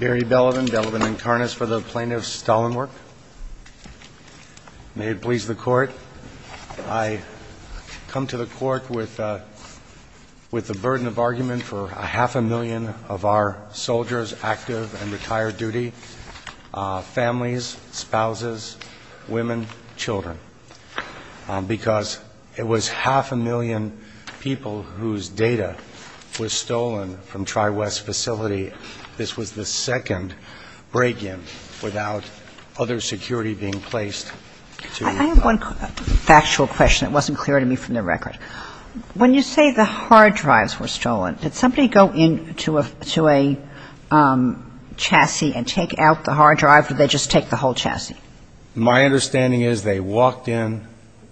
Barry Belevin, Belevin & Karnas for the Plaintiff's Stollenwerk. May it please the Court. I come to the Court with the burden of argument for half a million of our soldiers active and retired duty, families, spouses, women, children, because it was half a million people whose data was stolen from Tri-West facility. This was the second break-in without other security being placed to help. I have one factual question that wasn't clear to me from the record. When you say the hard drives were stolen, did somebody go into a chassis and take out the hard drive, or did they just take the whole chassis? My understanding is they walked in,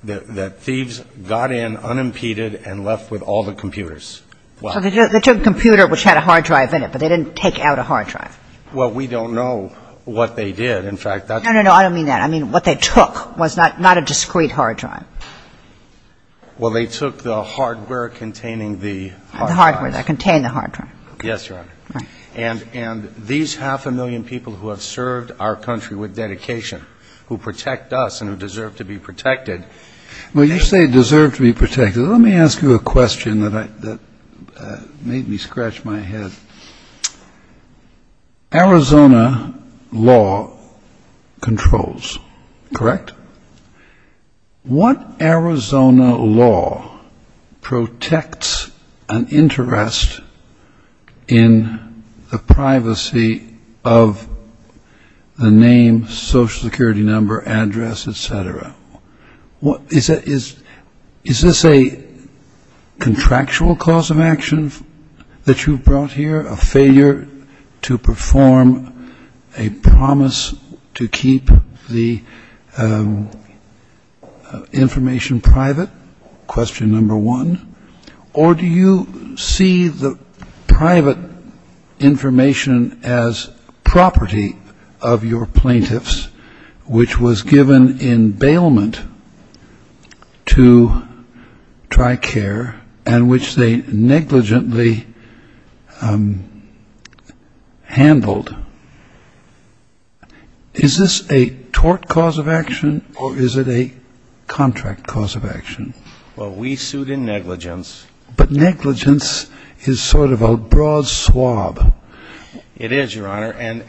that thieves got in unimpeded and left with all the computers. So they took a computer which had a hard drive in it, but they didn't take out a hard drive. Well, we don't know what they did. No, no, no, I don't mean that. I mean what they took was not a discrete hard drive. Well, they took the hardware containing the hard drive. The hardware that contained the hard drive. Yes, Your Honor. And these half a million people who have served our country with dedication, who protect us and who deserve to be protected. When you say deserve to be protected, let me ask you a question that made me scratch my head. Arizona law controls, correct? What Arizona law protects an interest in the privacy of the name, social security number, address, et cetera? Is this a contractual cause of action that you've brought here, a failure to perform a promise to keep the information private, question number one? Or do you see the private information as property of your plaintiffs, which was given in bailment to TRICARE and which they negligently handled? Is this a tort cause of action or is it a contract cause of action? Well, we sued in negligence. But negligence is sort of a broad swab. It is, Your Honor, and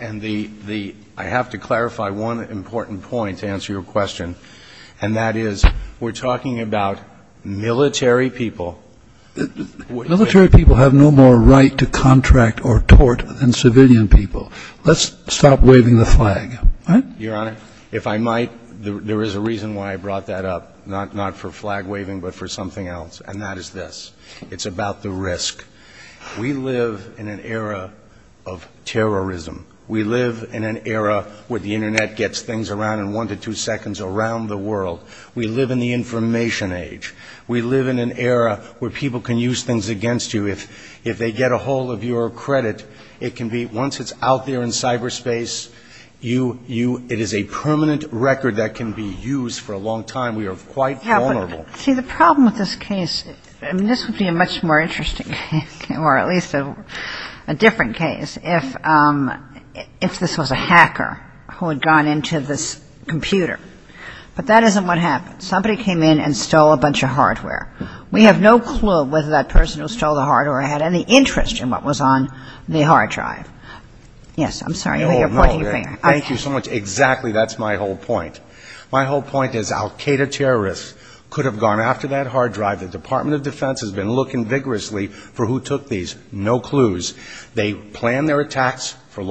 I have to clarify one important point to answer your question, and that is we're talking about military people. Military people have no more right to contract or tort than civilian people. Your Honor, if I might, there is a reason why I brought that up, not for flag-waving, but for something else, and that is this. It's about the risk. We live in an era of terrorism. We live in an era where the Internet gets things around in one to two seconds around the world. We live in the information age. We live in an era where people can use things against you. If they get a hold of your credit, it can be, once it's out there in cyberspace, it is a permanent record that can be used for a long time. We are quite vulnerable. See, the problem with this case, I mean, this would be a much more interesting case, or at least a different case, if this was a hacker who had gone into this computer. But that isn't what happened. Somebody came in and stole a bunch of hardware. We have no clue whether that person who stole the hardware had any interest in what was on the hard drive. Yes, I'm sorry, you're pointing your finger. My whole point is al Qaeda terrorists could have gone after that hard drive. The Department of Defense has been looking vigorously for who took these. They plan their attacks over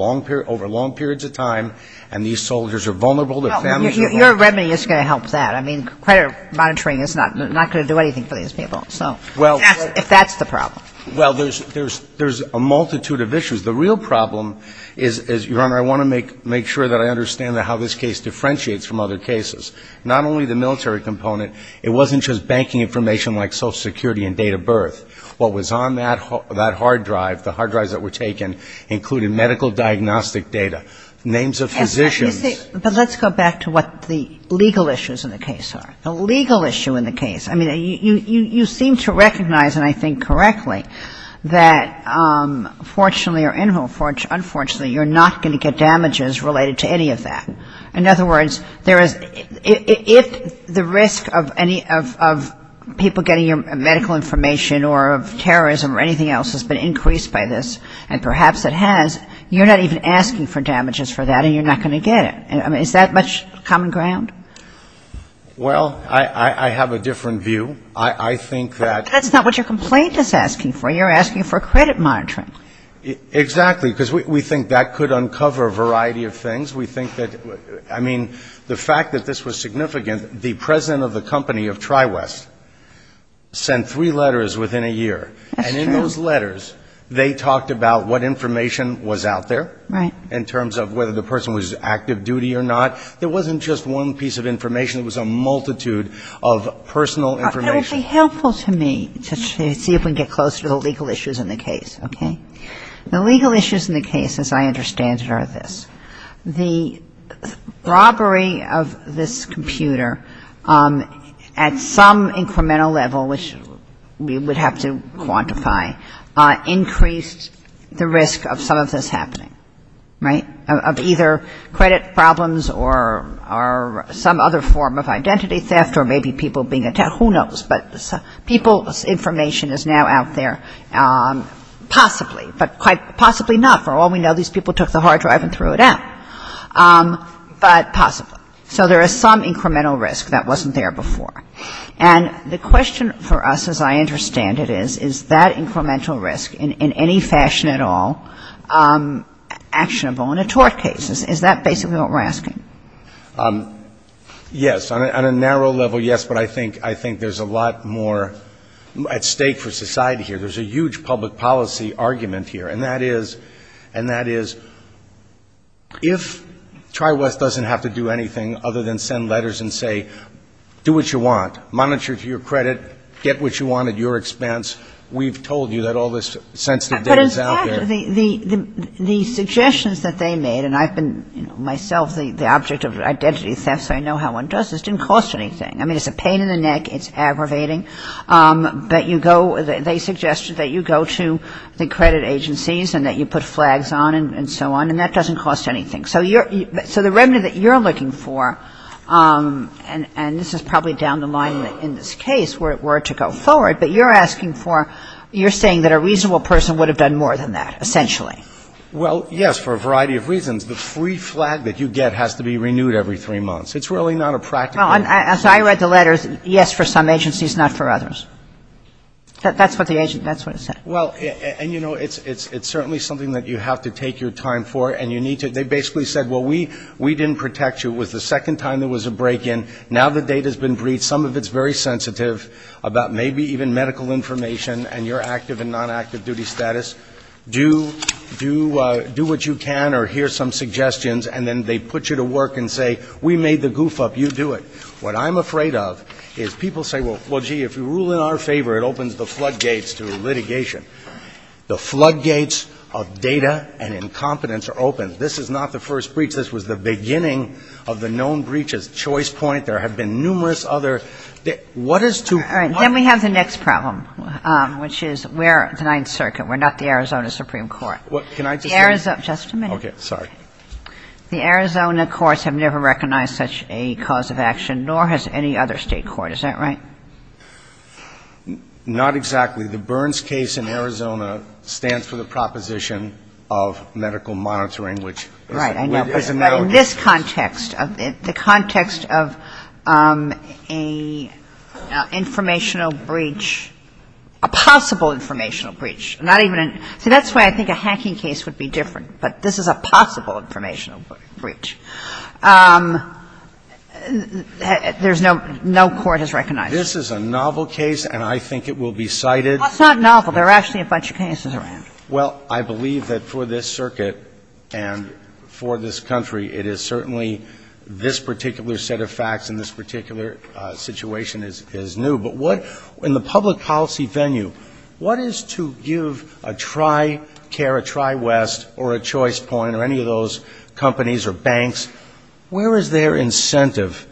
long periods of time, and these soldiers are vulnerable. Your remedy is going to help that. I mean, credit monitoring is not going to do anything for these people, if that's the problem. Well, there's a multitude of issues. The real problem is, Your Honor, I want to make sure that I understand how this case differentiates from other cases. Not only the military component, it wasn't just banking information like Social Security and date of birth. What was on that hard drive, the hard drives that were taken, included medical diagnostic data, names of physicians. But let's go back to what the legal issues in the case are. I mean, you seem to recognize, and I think correctly, that fortunately or unfortunately, you're not going to get damages related to any of that. In other words, if the risk of people getting your medical information or of terrorism or anything else has been increased by this, and perhaps it has, you're not even asking for damages for that, and you're not going to get it. I mean, is that much common ground? Well, I have a different view. I think that... That's not what your complaint is asking for. You're asking for credit monitoring. Exactly, because we think that could uncover a variety of things. We think that, I mean, the fact that this was significant, the president of the company of TriWest sent three letters within a year. That's true. And in those letters, they talked about what information was out there. Right. In terms of whether the person was active duty or not. There wasn't just one piece of information. It was a multitude of personal information. It would be helpful to me to see if we can get closer to the legal issues in the case, okay? The legal issues in the case, as I understand it, are this. The robbery of this computer at some incremental level, which we would have to quantify, increased the risk of some of this happening. Right? Of either credit problems or some other form of identity theft or maybe people being attacked. Who knows? But people's information is now out there, possibly, but quite possibly not. For all we know, these people took the hard drive and threw it out. But possibly. So there is some incremental risk that wasn't there before. And the question for us, as I understand it, is, is that incremental risk in any fashion at all actionable in a tort case? Is that basically what we're asking? Yes. On a narrow level, yes, but I think there's a lot more at stake for society here. There's a huge public policy argument here. And that is, if Tri-West doesn't have to do anything other than send letters and say, do what you want, monitor to your credit, get what you want at your expense, we've told you that all this sensitive data is out there. The suggestions that they made, and I've been myself the object of identity theft, so I know how one does this, didn't cost anything. I mean, it's a pain in the neck. It's aggravating. But you go, they suggest that you go to the credit agencies and that you put flags on and so on. And that doesn't cost anything. So the remedy that you're looking for, and this is probably down the line in this case where it were to go forward, but you're asking for, you're saying that a reasonable person would have done more than that, essentially. Well, yes, for a variety of reasons. The free flag that you get has to be renewed every three months. It's really not a practical thing. Well, as I read the letters, yes for some agencies, not for others. That's what the agency, that's what it said. Well, and, you know, it's certainly something that you have to take your time for and you need to. They basically said, well, we didn't protect you. It was the second time there was a break-in. Now the data's been briefed. Some of it's very sensitive about maybe even medical information and your active and non-active duty status. Do what you can or hear some suggestions, and then they put you to work and say, we made the goof up, you do it. What I'm afraid of is people say, well, gee, if you rule in our favor, it opens the floodgates to litigation. The floodgates of data and incompetence are open. This is not the first breach. This was the beginning of the known breaches. Choice point. There have been numerous other. What is too hard? Then we have the next problem, which is we're the Ninth Circuit. We're not the Arizona Supreme Court. Can I just say? Just a minute. Okay. Sorry. The Arizona courts have never recognized such a cause of action, nor has any other State court. Is that right? Not exactly. The Burns case in Arizona stands for the proposition of medical monitoring, which is a medical case. In this context, the context of an informational breach, a possible informational breach, not even a – see, that's why I think a hacking case would be different, but this is a possible informational breach. There's no – no court has recognized it. This is a novel case, and I think it will be cited. Well, it's not novel. There are actually a bunch of cases around. Well, I believe that for this circuit and for this country, it is certainly this particular set of facts and this particular situation is new. But what – in the public policy venue, what is to give a TriCare, a TriWest, or a Choice Point, or any of those companies or banks, where is their incentive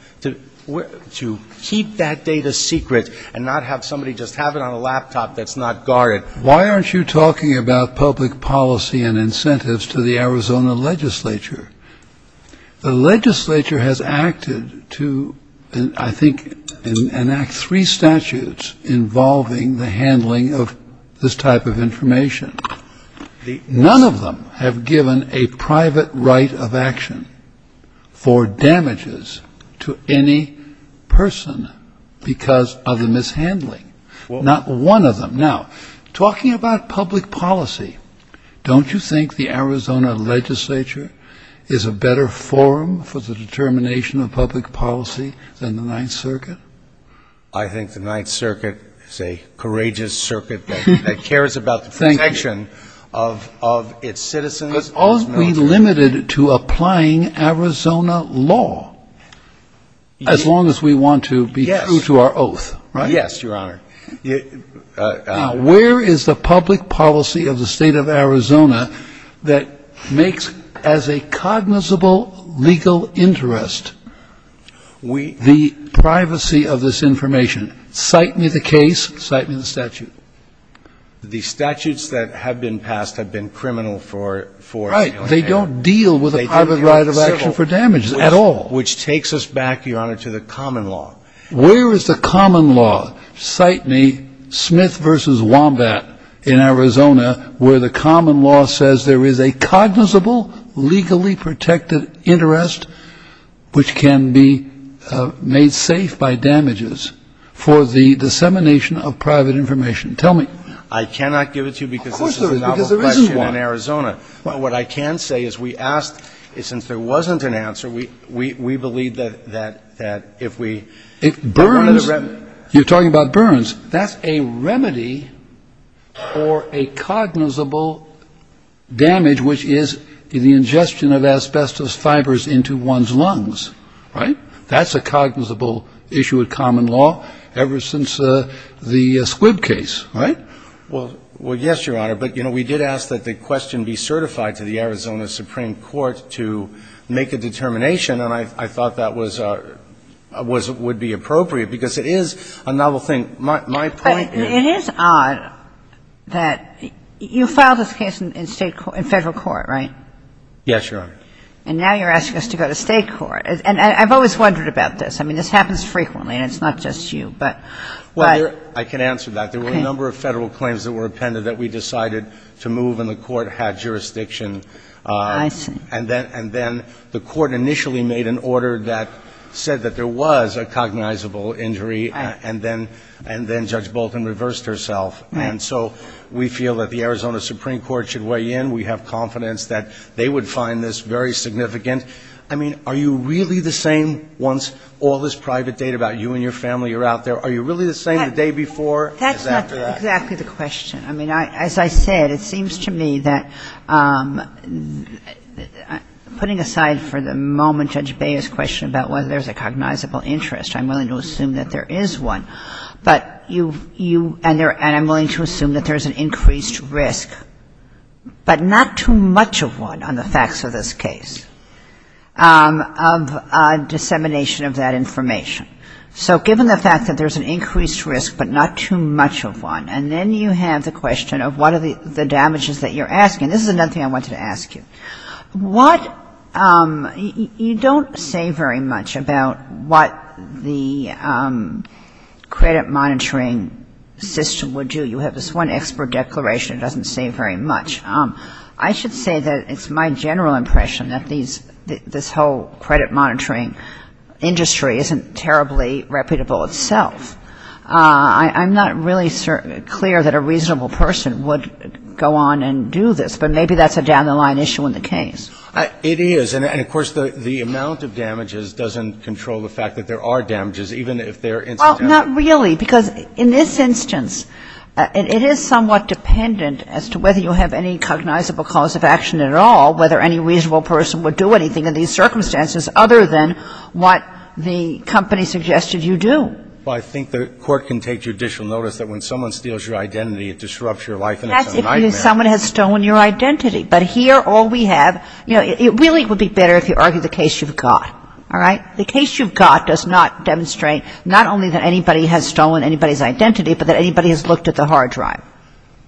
to keep that data secret and not have somebody just have it on a laptop that's not guarded? Why aren't you talking about public policy and incentives to the Arizona legislature? The legislature has acted to, I think, enact three statutes involving the handling of this type of information. None of them have given a private right of action for damages to any person because of the mishandling. Not one of them. Now, talking about public policy, don't you think the Arizona legislature is a better forum for the determination of public policy than the Ninth Circuit? I think the Ninth Circuit is a courageous circuit that cares about the protection of its citizens. Could all be limited to applying Arizona law as long as we want to be true to our oath, right? Yes, Your Honor. Where is the public policy of the State of Arizona that makes, as a cognizable legal interest, the privacy of this information? Cite me the case. Cite me the statute. The statutes that have been passed have been criminal for – Right. They don't deal with a private right of action for damages at all. Which takes us back, Your Honor, to the common law. Where is the common law? Cite me Smith v. Wombat in Arizona where the common law says there is a cognizable legally protected interest which can be made safe by damages for the dissemination of private information. Tell me. I cannot give it to you because this is a novel question in Arizona. Of course there is, because there isn't one. Well, what I can say is we asked – since there wasn't an answer, we believe that if we – Burns – you're talking about Burns. That's a remedy for a cognizable damage, which is the ingestion of asbestos fibers into one's lungs, right? That's a cognizable issue of common law ever since the Squibb case, right? Well, yes, Your Honor. But, you know, we did ask that the question be certified to the Arizona Supreme Court to make a determination, and I thought that was – would be appropriate because it is a novel thing. My point is – But it is odd that – you filed this case in State – in Federal court, right? Yes, Your Honor. And now you're asking us to go to State court. And I've always wondered about this. I mean, this happens frequently, and it's not just you, but – Well, I can answer that. There were a number of Federal claims that were appended that we decided to move, and the court had jurisdiction. I see. And then the court initially made an order that said that there was a cognizable injury. Right. And then Judge Bolton reversed herself. Right. And so we feel that the Arizona Supreme Court should weigh in. We have confidence that they would find this very significant. I mean, are you really the same once all this private data about you and your family are out there? Are you really the same the day before? The day after that? That's not exactly the question. I mean, as I said, it seems to me that, putting aside for the moment Judge Beyer's question about whether there's a cognizable interest, I'm willing to assume that there is one, but you – and I'm willing to assume that there's an increased risk, but not too much of one on the facts of this case, of dissemination of that information. So given the fact that there's an increased risk, but not too much of one, and then you have the question of what are the damages that you're asking. This is another thing I wanted to ask you. What – you don't say very much about what the credit monitoring system would do. You have this one expert declaration. It doesn't say very much. I should say that it's my general impression that this whole credit monitoring industry isn't terribly reputable itself. I'm not really clear that a reasonable person would go on and do this, but maybe that's a down-the-line issue in the case. It is. And, of course, the amount of damages doesn't control the fact that there are damages, even if they're incidental. Well, not really, because in this instance, it is somewhat dependent as to whether you have any cognizable cause of action at all, whether any reasonable person would do anything in these circumstances other than what the company suggested you do. Well, I think the Court can take judicial notice that when someone steals your identity, it disrupts your life and it's a nightmare. That's if someone has stolen your identity. But here all we have – you know, it really would be better if you argue the case you've got, all right? The case you've got does not demonstrate not only that anybody has stolen anybody's identity, but that anybody has looked at the hard drive.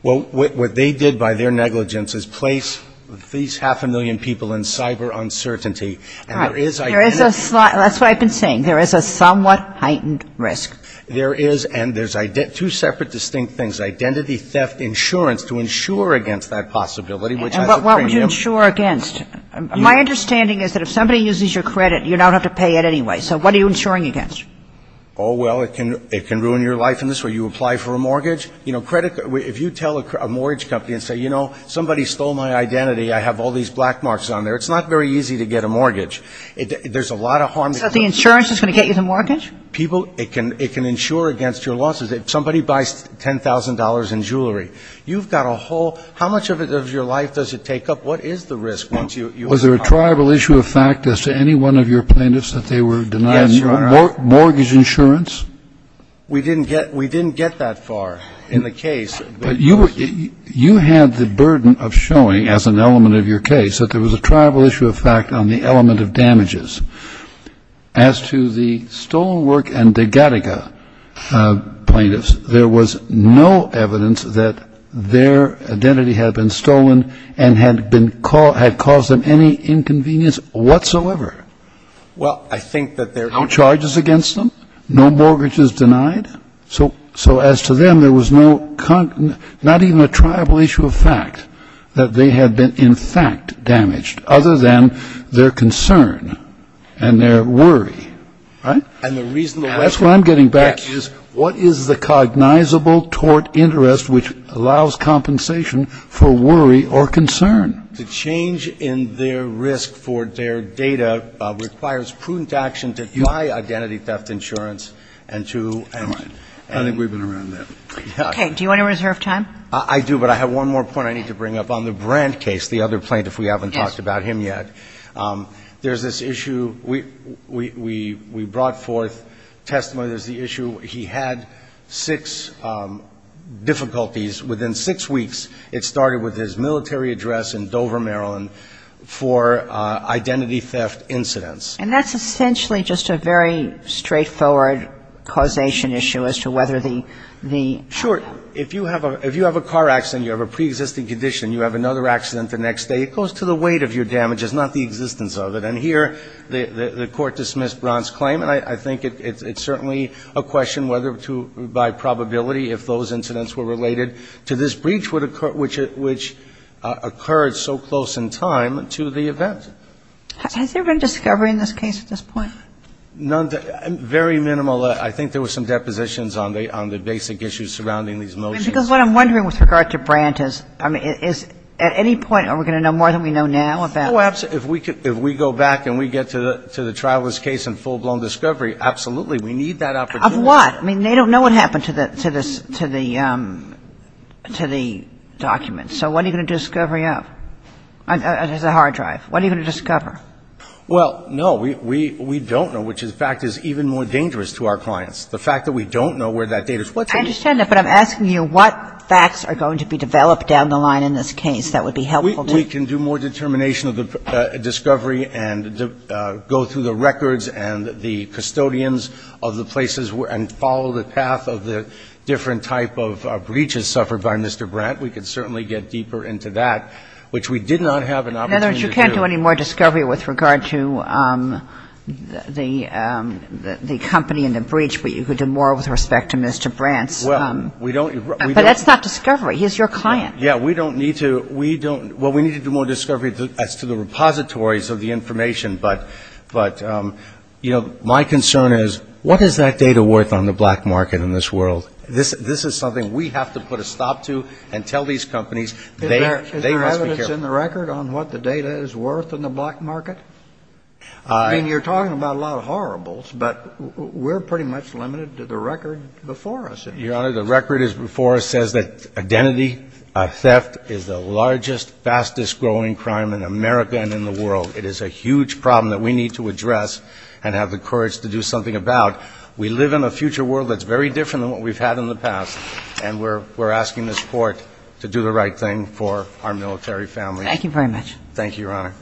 Well, what they did by their negligence is place these half a million people in cyber uncertainty, and there is identity theft. All right. There is a – that's what I've been saying. There is a somewhat heightened risk. There is, and there's two separate distinct things, identity theft insurance to insure against that possibility, which has a premium. And what would you insure against? My understanding is that if somebody uses your credit, you don't have to pay it anyway. So what are you insuring against? Oh, well, it can ruin your life in this way. You apply for a mortgage. You know, credit – if you tell a mortgage company and say, you know, somebody stole my identity, I have all these black marks on there, it's not very easy to get a mortgage. There's a lot of harm. So the insurance is going to get you the mortgage? People – it can – it can insure against your losses. If somebody buys $10,000 in jewelry, you've got a whole – how much of your life does it take up? What is the risk once you have a car? Was there a tribal issue of fact as to any one of your plaintiffs that they were denying mortgage insurance? Yes, Your Honor. We didn't get – we didn't get that far in the case. But you were – you had the burden of showing, as an element of your case, that there was a tribal issue of fact on the element of damages. As to the stolen work and de Gattaca plaintiffs, there was no evidence that their identity had been stolen and had been – had caused them any inconvenience whatsoever. Well, I think that there – No charges against them? No mortgages denied? So as to them, there was no – not even a tribal issue of fact that they had been in fact damaged, other than their concern and their worry, right? And the reason – That's what I'm getting back is, what is the cognizable tort interest which allows compensation for worry or concern? The change in their risk for their data requires prudent action to deny identity theft insurance and to – Never mind. I think we've been around that. Okay. Do you want to reserve time? I do, but I have one more point I need to bring up. On the Brandt case, the other plaintiff, we haven't talked about him yet. Yes. There's this issue – we brought forth testimony. There's the issue he had six difficulties. Within six weeks, it started with his military address in Dover, Maryland, for identity theft incidents. And that's essentially just a very straightforward causation issue as to whether the – Sure. If you have a car accident, you have a preexisting condition, you have another accident the next day, it goes to the weight of your damages, not the existence of it. And here, the Court dismissed Brandt's claim, and I think it's certainly a question whether to – by probability, if those incidents were related to this breach, which occurred so close in time to the event. Has there been discovery in this case at this point? Very minimal. I think there were some depositions on the basic issues surrounding these motions. Because what I'm wondering with regard to Brandt is, at any point, are we going to know more than we know now about it? Oh, absolutely. If we go back and we get to the traveler's case in full-blown discovery, absolutely, we need that opportunity. Of what? I mean, they don't know what happened to the documents. So what are you going to do a discovery of? There's a hard drive. What are you going to discover? Well, no, we don't know, which, in fact, is even more dangerous to our clients. The fact that we don't know where that data is. I understand that, but I'm asking you what facts are going to be developed down the line in this case that would be helpful to you. We can do more determination of the discovery and go through the records and the custodians of the places and follow the path of the different type of breaches suffered by Mr. Brandt. We could certainly get deeper into that, which we did not have an opportunity to do. In other words, you can't do any more discovery with regard to the company and the breach, but you could do more with respect to Mr. Brandt. Well, we don't. But that's not discovery. He's your client. Yeah, we don't need to. We don't. Well, we need to do more discovery as to the repositories of the information. But, you know, my concern is what is that data worth on the black market in this world? This is something we have to put a stop to and tell these companies they must be careful. Is there evidence in the record on what the data is worth in the black market? I mean, you're talking about a lot of horribles, but we're pretty much limited to the record before us. Your Honor, the record before us says that identity theft is the largest, fastest growing crime in America and in the world. It is a huge problem that we need to address and have the courage to do something about. We live in a future world that's very different than what we've had in the past, and we're asking this Court to do the right thing for our military families. Thank you very much. Thank you, Your Honor.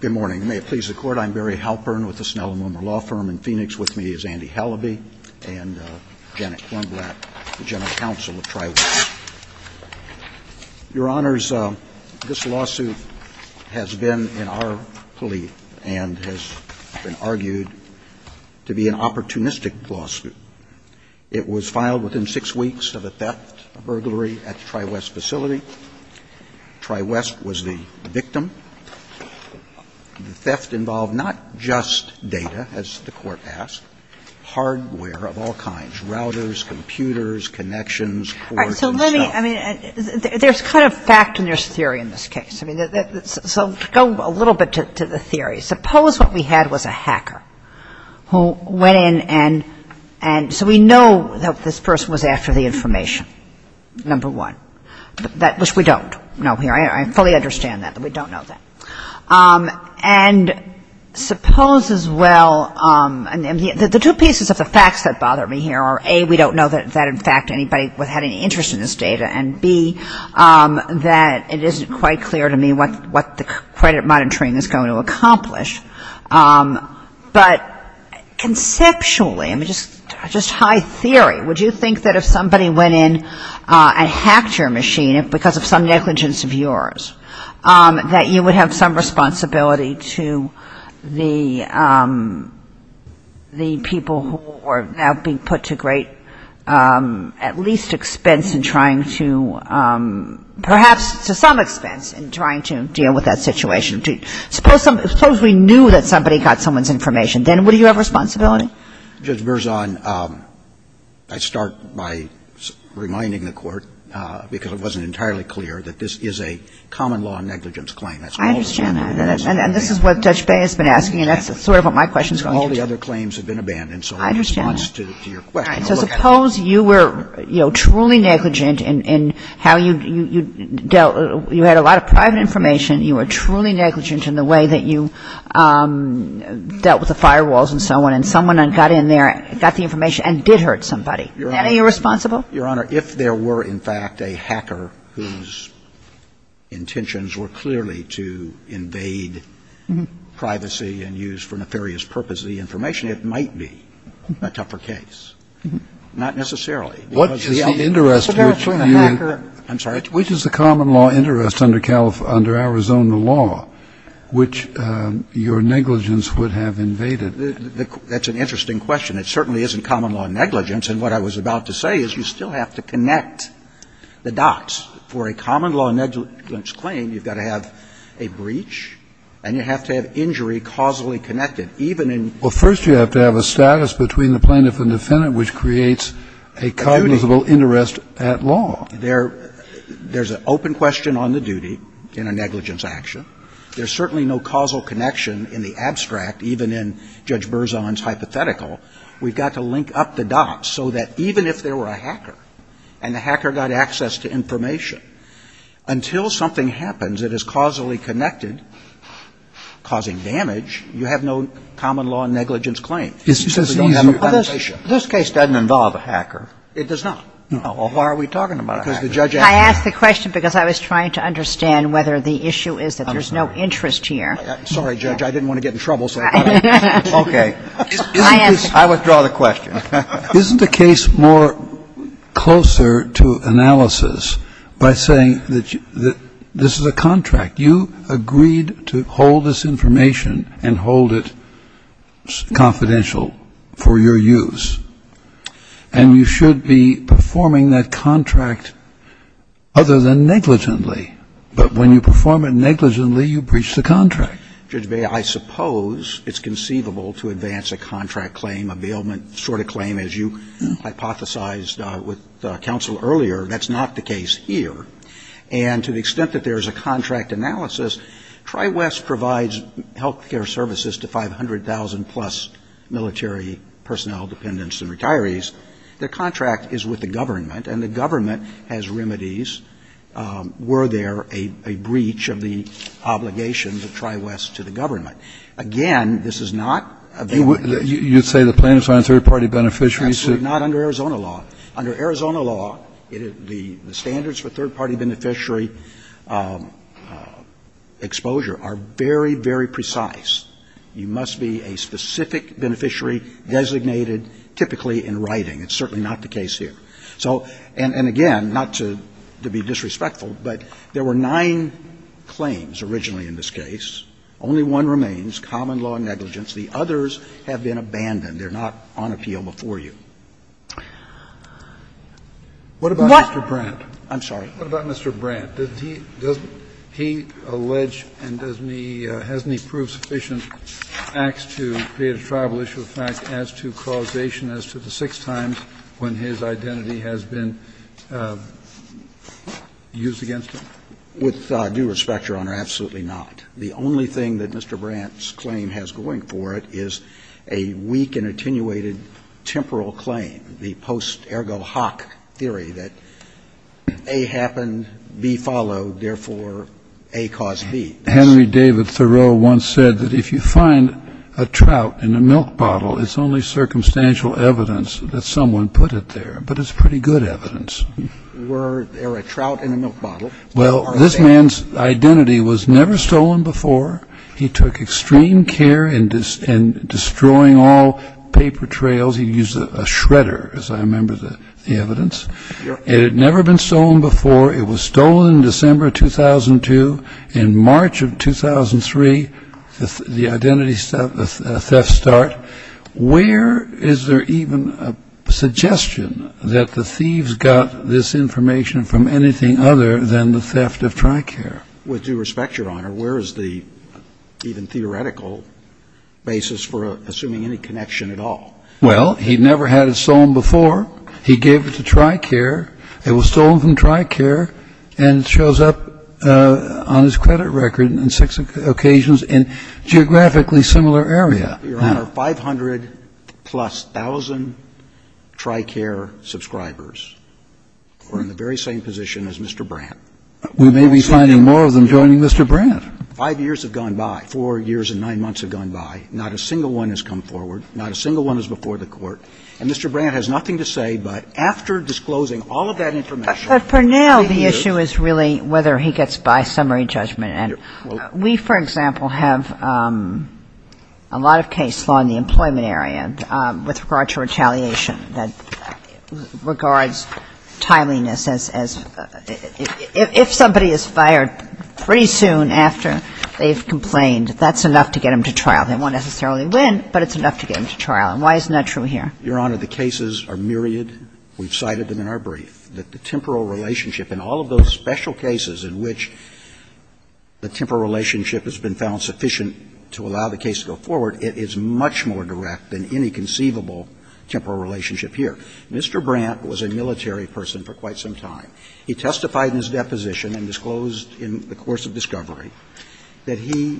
Good morning. May it please the Court, I'm Barry Halpern with the Snell and Wimmer Law Firm in Phoenix. With me is Andy Halaby and Janet Wendlap, the General Counsel of Tri-Wing. Your Honors, this lawsuit has been in our plea and has been argued to be an opportunistic lawsuit. It was filed within six weeks of a theft, a burglary at the Tri-West facility. Tri-West was the victim. The theft involved not just data, as the Court asked, hardware of all kinds, routers, computers, connections, ports. All right. So let me, I mean, there's kind of fact and there's theory in this case. So to go a little bit to the theory, suppose what we had was a hacker who went in and so we know that this person was after the information, number one, which we don't know here. I fully understand that. We don't know that. And suppose as well, the two pieces of the facts that bother me here are, A, we don't know that in fact anybody had any interest in this data and, B, that it isn't quite clear to me what the credit monitoring is going to accomplish. But conceptually, I mean, just high theory, would you think that if somebody went in and hacked your machine because of some negligence of yours, that you would have some responsibility to the people who are now being put to great, at least expense in trying to, perhaps to some expense in trying to deal with that situation? Suppose we knew that somebody got someone's information. Then would you have responsibility? Judge Berzon, I start by reminding the Court, because it wasn't entirely clear, that this is a common law negligence claim. I understand that. And this is what Judge Bey has been asking, and that's sort of what my question is going to be. All the other claims have been abandoned, so in response to your question, look at it. So suppose you were, you know, truly negligent in how you dealt, you had a lot of private information, you were truly negligent in the way that you dealt with the firewalls and so on, and someone got in there, got the information, and did hurt somebody. Isn't that irresponsible? Your Honor, if there were, in fact, a hacker whose intentions were clearly to invade privacy and use for nefarious purposes the information, it might be a tougher case. Not necessarily. Kennedy. What is the interest which you. I'm sorry. Which is the common law interest under Arizona law, which your negligence would have invaded? That's an interesting question. It certainly isn't common law negligence. And what I was about to say is you still have to connect the dots. For a common law negligence claim, you've got to have a breach and you have to have injury causally connected, even in. Well, first you have to have a status between the plaintiff and the defendant which creates a cognizable interest at law. There's an open question on the duty in a negligence action. There's certainly no causal connection in the abstract, even in Judge Berzon's hypothetical. We've got to link up the dots so that even if there were a hacker and the hacker got access to information, until something happens that is causally connected, causing damage, you have no common law negligence claim. It's just easier. This case doesn't involve a hacker. It does not. No. Well, why are we talking about a hacker? I asked the question because I was trying to understand whether the issue is that there's no interest here. Sorry, Judge, I didn't want to get in trouble. Okay. I withdraw the question. Isn't the case more closer to analysis by saying that this is a contract? You agreed to hold this information and hold it confidential for your use. And you should be performing that contract other than negligently. But when you perform it negligently, you breach the contract. I suppose it's conceivable to advance a contract claim, a bailment sort of claim, as you hypothesized with counsel earlier. That's not the case here. And to the extent that there is a contract analysis, Tri-West provides health care services to 500,000-plus military personnel, dependents, and retirees. Their contract is with the government, and the government has remedies. Were there a breach of the obligation of Tri-West to the government? Again, this is not available. You say the plaintiffs aren't third-party beneficiaries? Absolutely not under Arizona law. Under Arizona law, the standards for third-party beneficiary exposure are very, very precise. You must be a specific beneficiary designated typically in writing. It's certainly not the case here. So, and again, not to be disrespectful, but there were nine claims originally in this case. Only one remains, common law negligence. The others have been abandoned. They're not on appeal before you. What about Mr. Brandt? I'm sorry. Kennedy. What about Mr. Brandt? Does he allege and doesn't he prove sufficient facts to create a tribal issue of fact as to causation as to the six times when his identity has been used against him? With due respect, Your Honor, absolutely not. The only thing that Mr. Brandt's claim has going for it is a weak and attenuated temporal claim, the post ergo hoc theory that A happened, B followed, therefore A caused B. Henry David Thoreau once said that if you find a trout in a milk bottle, it's only circumstantial evidence that someone put it there. But it's pretty good evidence. Were there a trout in a milk bottle? Well, this man's identity was never stolen before. He took extreme care in destroying all paper trails. He used a shredder, as I remember the evidence. It had never been stolen before. It was stolen in December of 2002. In March of 2003, the identity theft start. Where is there even a suggestion that the thieves got this information from anything other than the theft of TRICARE? With due respect, Your Honor, where is the even theoretical basis for assuming any connection at all? Well, he never had it stolen before. He gave it to TRICARE. It was stolen from TRICARE and shows up on his credit record on six occasions in geographically similar areas. Your Honor, 500-plus thousand TRICARE subscribers are in the very same position as Mr. Brandt. We may be finding more of them joining Mr. Brandt. Five years have gone by. Four years and nine months have gone by. Not a single one has come forward. Not a single one is before the Court. And Mr. Brandt has nothing to say, but after disclosing all of that information he is. But for now, the issue is really whether he gets by summary judgment. And we, for example, have a lot of case law in the employment area with regard to retaliation that regards timeliness as if somebody is fired pretty soon after they've complained, that's enough to get them to trial. They won't necessarily win, but it's enough to get them to trial. And why isn't that true here? Your Honor, the cases are myriad. We've cited them in our brief. The temporal relationship in all of those special cases in which the temporal relationship has been found sufficient to allow the case to go forward, it is much more direct than any conceivable temporal relationship here. Mr. Brandt was a military person for quite some time. He testified in his deposition and disclosed in the course of discovery that he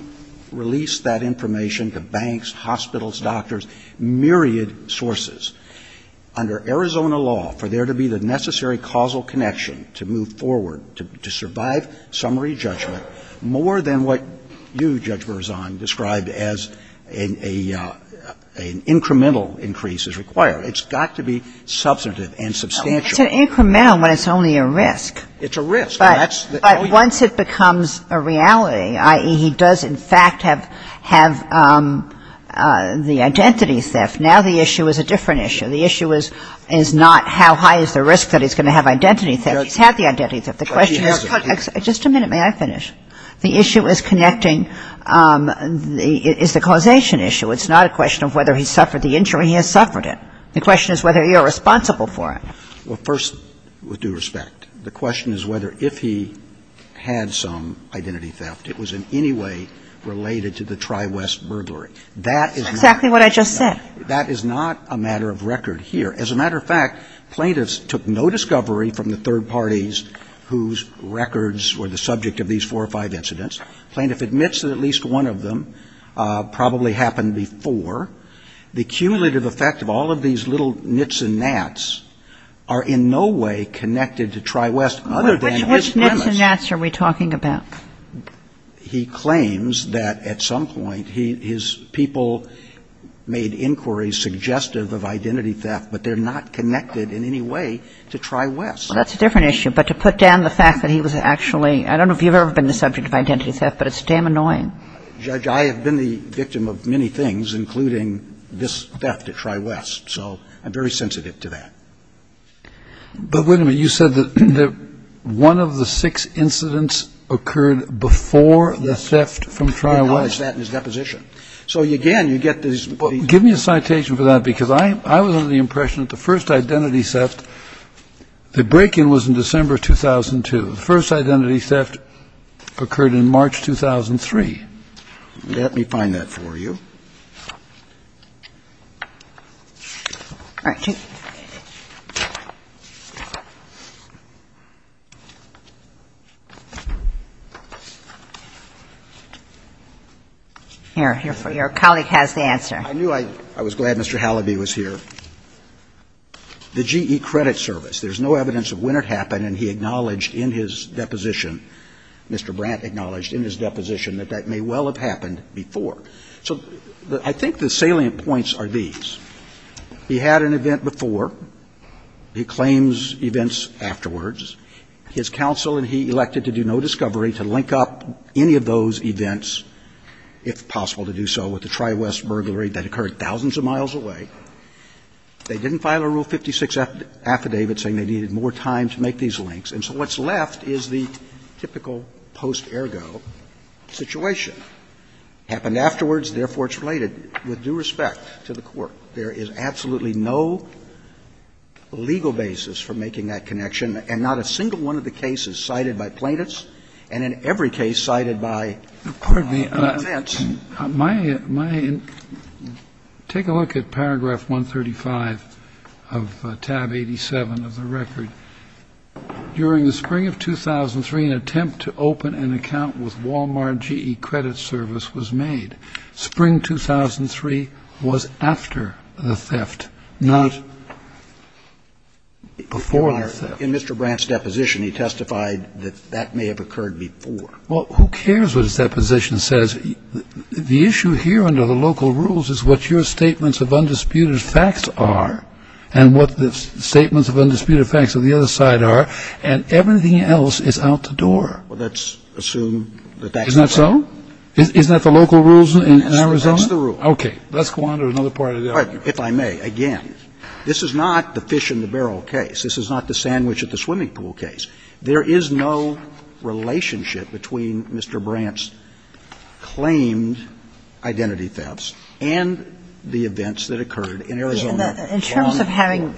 released that information to banks, hospitals, doctors, myriad sources. Under Arizona law, for there to be the necessary causal connection to move forward to survive summary judgment more than what you, Judge Berzon, described as an incremental increase is required, it's got to be substantive and substantial. It's an incremental when it's only a risk. It's a risk. But once it becomes a reality, i.e., he does, in fact, have the identity theft, now the issue is a different issue. The issue is not how high is the risk that he's going to have identity theft. He's had the identity theft. The question is, just a minute. May I finish? The issue is connecting, is the causation issue. It's not a question of whether he suffered the injury. He has suffered it. The question is whether you're responsible for it. Well, first, with due respect, the question is whether if he had some identity theft, it was in any way related to the Tri-West burglary. That is not. That's exactly what I just said. That is not a matter of record here. As a matter of fact, plaintiffs took no discovery from the third parties whose records were the subject of these four or five incidents. Plaintiff admits that at least one of them probably happened before. The cumulative effect of all of these little nits and nats are in no way connected to Tri-West other than his premise. Which nits and nats are we talking about? He claims that at some point his people made inquiries suggestive of identity theft, but they're not connected in any way to Tri-West. Well, that's a different issue. But to put down the fact that he was actually – I don't know if you've ever been the subject of identity theft, but it's damn annoying. Judge, I have been the victim of many things, including this theft at Tri-West. So I'm very sensitive to that. But wait a minute. You said that one of the six incidents occurred before the theft from Tri-West. He highlights that in his deposition. So again, you get these – Give me a citation for that, because I was under the impression that the first identity theft – the break-in was in December 2002. The first identity theft occurred in March 2003. Let me find that for you. All right. Here. Your colleague has the answer. I knew I – I was glad Mr. Halliby was here. The GE credit service. There's no evidence of when it happened. And he acknowledged in his deposition, Mr. Brandt acknowledged in his deposition that that may well have happened before. So I think the salient points are these. He had an event before. He claims events afterwards. His counsel and he elected to do no discovery, to link up any of those events, if possible, to do so with the Tri-West burglary that occurred thousands of miles They didn't file a Rule 56 affidavit saying they needed more time to make these links. And so what's left is the typical post-ergo situation. Happened afterwards. Therefore, it's related with due respect to the Court. There is absolutely no legal basis for making that connection, and not a single one of the cases cited by plaintiffs, and in every case cited by the defense. Take a look at paragraph 135 of tab 87 of the record. During the spring of 2003, an attempt to open an account with Walmart GE credit service was made. Spring 2003 was after the theft, not before the theft. In Mr. Brandt's deposition, he testified that that may have occurred before. Well, who cares what his deposition says? The issue here under the local rules is what your statements of undisputed facts are, and what the statements of undisputed facts on the other side are. And everything else is out the door. Well, let's assume that that's the case. Isn't that so? Isn't that the local rules in Arizona? That's the rule. Okay. Let's go on to another part of the argument. If I may, again, this is not the fish in the barrel case. This is not the sandwich at the swimming pool case. There is no relationship between Mr. Brandt's claimed identity thefts and the events that occurred in Arizona. In terms of having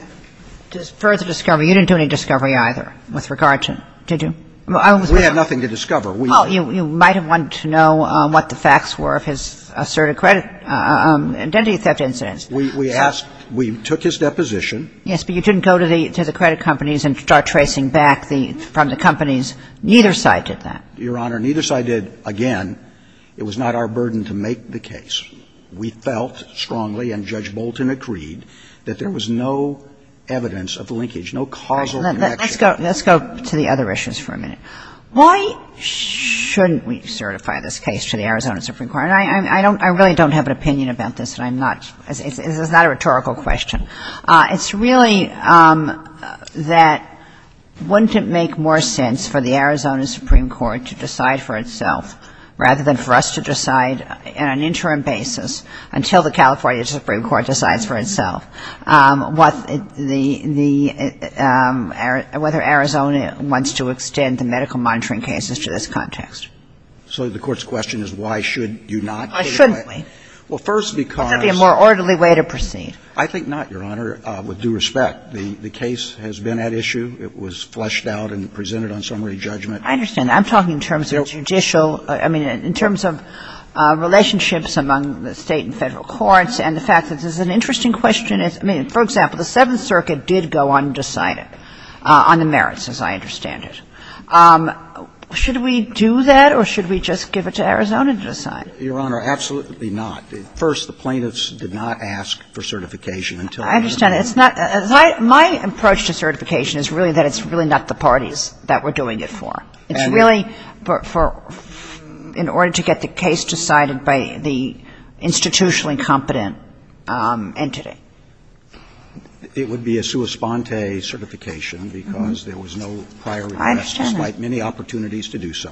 further discovery, you didn't do any discovery either with regard to – did you? We had nothing to discover. Well, you might have wanted to know what the facts were of his asserted credit identity theft incidents. We asked – we took his deposition. Yes, but you didn't go to the credit companies and start tracing back the – from the companies. Neither side did that. Your Honor, neither side did. Again, it was not our burden to make the case. We felt strongly, and Judge Bolton agreed, that there was no evidence of linkage, no causal connection. Let's go to the other issues for a minute. Why shouldn't we certify this case to the Arizona Supreme Court? I really don't have an opinion about this, and I'm not – it's not a rhetorical question. It's really that wouldn't it make more sense for the Arizona Supreme Court to decide for itself rather than for us to decide on an interim basis until the California Supreme Court decides for itself what the – the – whether Arizona wants to extend the medical monitoring cases to this context? So the Court's question is why should you not? Why shouldn't we? Well, first because – Would that be a more orderly way to proceed? I think not, Your Honor, with due respect. The case has been at issue. It was fleshed out and presented on summary judgment. I understand that. I'm talking in terms of judicial – I mean, in terms of relationships among the State and Federal courts and the fact that this is an interesting question. I mean, for example, the Seventh Circuit did go undecided on the merits, as I understand it. Should we do that or should we just give it to Arizona to decide? Your Honor, absolutely not. First, the plaintiffs did not ask for certification until the interim. I understand. It's not – my approach to certification is really that it's really not the parties that we're doing it for. It's really for – in order to get the case decided by the institutionally competent entity. It would be a sua sponte certification because there was no prior request despite many opportunities to do so.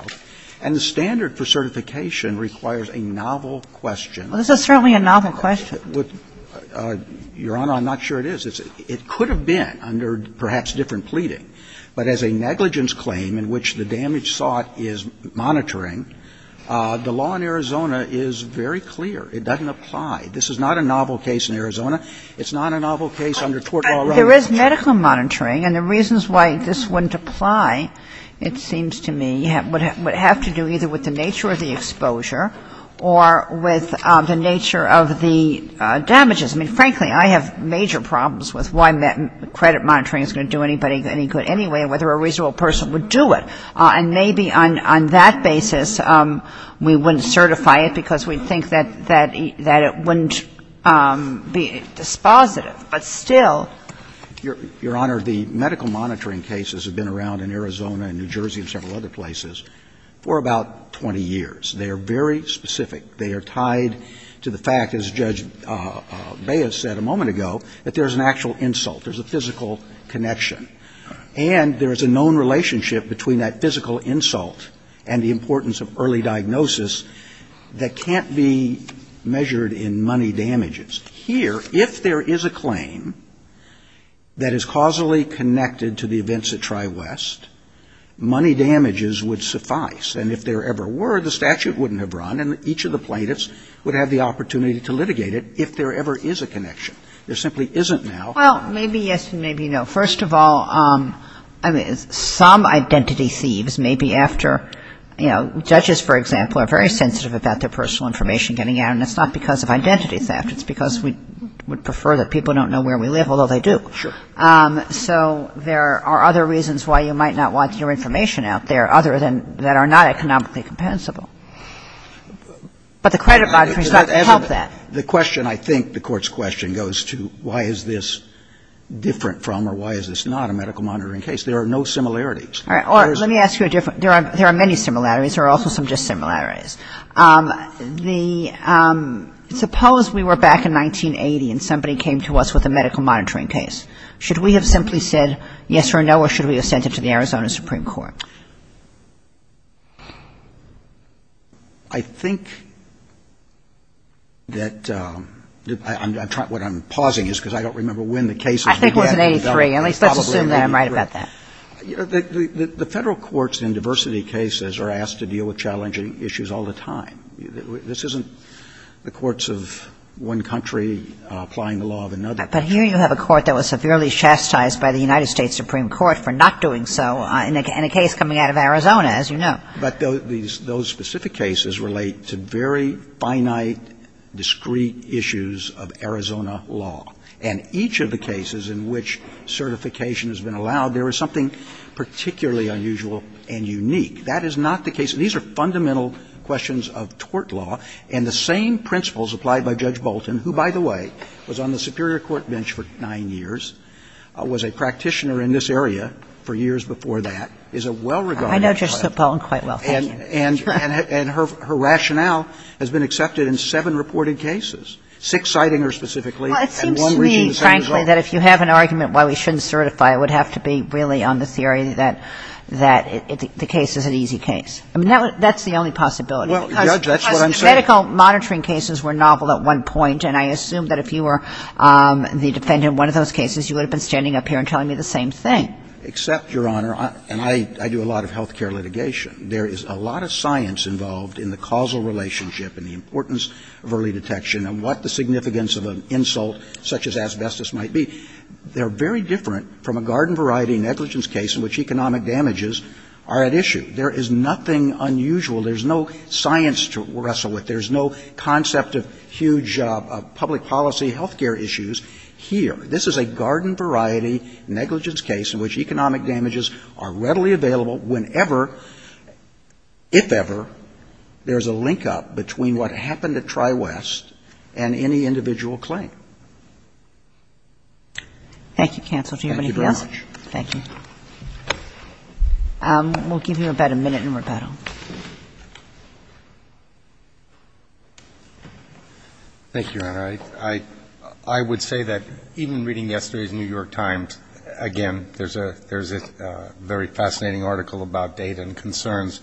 And the standard for certification requires a novel question. Well, this is certainly a novel question. Your Honor, I'm not sure it is. It could have been under perhaps different pleading, but as a negligence claim in which the damage sought is monitoring, the law in Arizona is very clear. It doesn't apply. This is not a novel case in Arizona. It's not a novel case under tort law. There is medical monitoring, and the reasons why this wouldn't apply, it seems to me, would have to do either with the nature of the exposure or with the nature of the damages. I mean, frankly, I have major problems with why credit monitoring is going to do anybody any good anyway and whether a reasonable person would do it. And maybe on that basis, we wouldn't certify it because we think that it wouldn't be dispositive, but still. Your Honor, the medical monitoring cases have been around in Arizona and New Jersey and several other places for about 20 years. They are very specific. They are tied to the fact, as Judge Baez said a moment ago, that there is an actual insult. There is a physical connection. And there is a known relationship between that physical insult and the importance of early diagnosis that can't be measured in money damages. Here, if there is a claim that is causally connected to the events at Tri-West, money damages would suffice. And if there ever were, the statute wouldn't have run, and each of the plaintiffs would have the opportunity to litigate it if there ever is a connection. There simply isn't now. Well, maybe yes and maybe no. First of all, I mean, some identity thieves may be after, you know, judges, for example, are very sensitive about their personal information getting out, and it's not because of identity theft. It's because we would prefer that people don't know where we live, although they do. So there are other reasons why you might not want your information out there other than that are not economically compensable. But the credit monitoring should help that. The question, I think, the Court's question goes to why is this different from or why is this not a medical monitoring case. There are no similarities. All right. Or let me ask you a different question. There are many similarities. There are also some dissimilarities. The – suppose we were back in 1980 and somebody came to us with a medical monitoring case. Should we have simply said yes or no, or should we have sent it to the Arizona Supreme Court? I think that – what I'm pausing is because I don't remember when the case was. I think it was in 83. At least let's assume that I'm right about that. The Federal courts in diversity cases are asked to deal with challenging issues all the time. This isn't the courts of one country applying the law of another. But here you have a court that was severely chastised by the United States Supreme Court for not doing so in a case coming out of Arizona, as you know. But those specific cases relate to very finite, discrete issues of Arizona law. And each of the cases in which certification has been allowed, there is something particularly unusual and unique. That is not the case. These are fundamental questions of tort law. And the same principles applied by Judge Bolton, who, by the way, was on the Superior Court bench for nine years, was a practitioner in this area for years before that, is a well-regarded client. Kagan. I know Judge Sotbolan quite well. Thank you. And her rationale has been accepted in seven reported cases, six citing her specifically and one reaching the same result. Well, it seems to me, frankly, that if you have an argument why we shouldn't certify, it would have to be really on the theory that the case is an easy case. I mean, that's the only possibility. Well, Judge, that's what I'm saying. Because medical monitoring cases were novel at one point. And I assume that if you were the defendant in one of those cases, you would have been standing up here and telling me the same thing. Except, Your Honor, and I do a lot of health care litigation, there is a lot of science involved in the causal relationship and the importance of early detection and what the significance of an insult such as asbestos might be. They're very different from a garden variety negligence case in which economic damages are at issue. There is nothing unusual. There is no science to wrestle with. There is no concept of huge public policy health care issues here. This is a garden variety negligence case in which economic damages are readily available whenever, if ever, there is a link-up between what happened at TriWest and any individual claim. Thank you, counsel. Do you have anything else? Thank you very much. Thank you. We'll give you about a minute in rebuttal. Thank you, Your Honor. I would say that even reading yesterday's New York Times, again, there's a very fascinating article about data and concerns.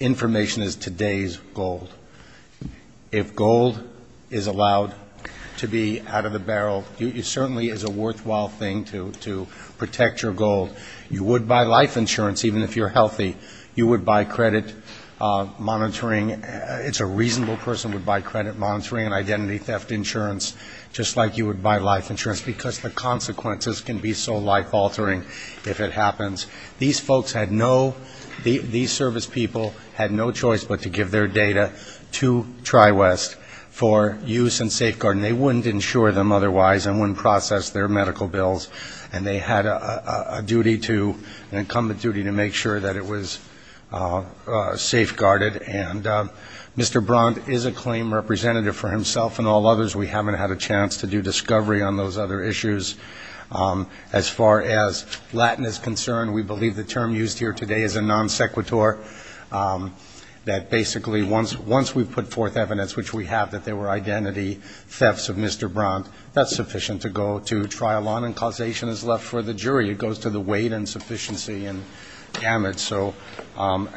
Information is today's gold. If gold is allowed to be out of the barrel, it certainly is a worthwhile thing to protect your gold. You would buy life insurance, even if you're healthy. You would buy credit monitoring. It's a reasonable person would buy credit monitoring and identity theft insurance, just like you would buy life insurance, because the consequences can be so life-altering if it happens. These folks had no, these service people had no choice but to give their data to TriWest for use and safeguard. And they wouldn't insure them otherwise and wouldn't process their medical bills. And they had a duty to, an incumbent duty to make sure that it was safeguarded. And Mr. Brandt is a claim representative for himself and all others. We haven't had a chance to do discovery on those other issues. As far as Latin is concerned, we believe the term used here today is a non-sequitur, that basically once we've put forth evidence, which we have, that there were identity thefts of Mr. Brandt, that's sufficient to go to trial on and causation is left for the jury. It goes to the weight and sufficiency and damage. So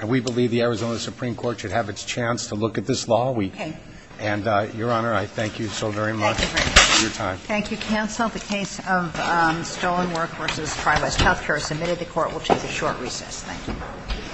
we believe the Arizona Supreme Court should have its chance to look at this law. And, Your Honor, I thank you so very much for your time. Thank you, counsel. The case of Stolen Work v. TriWest Healthcare is submitted. The Court will take a short recess. Thank you.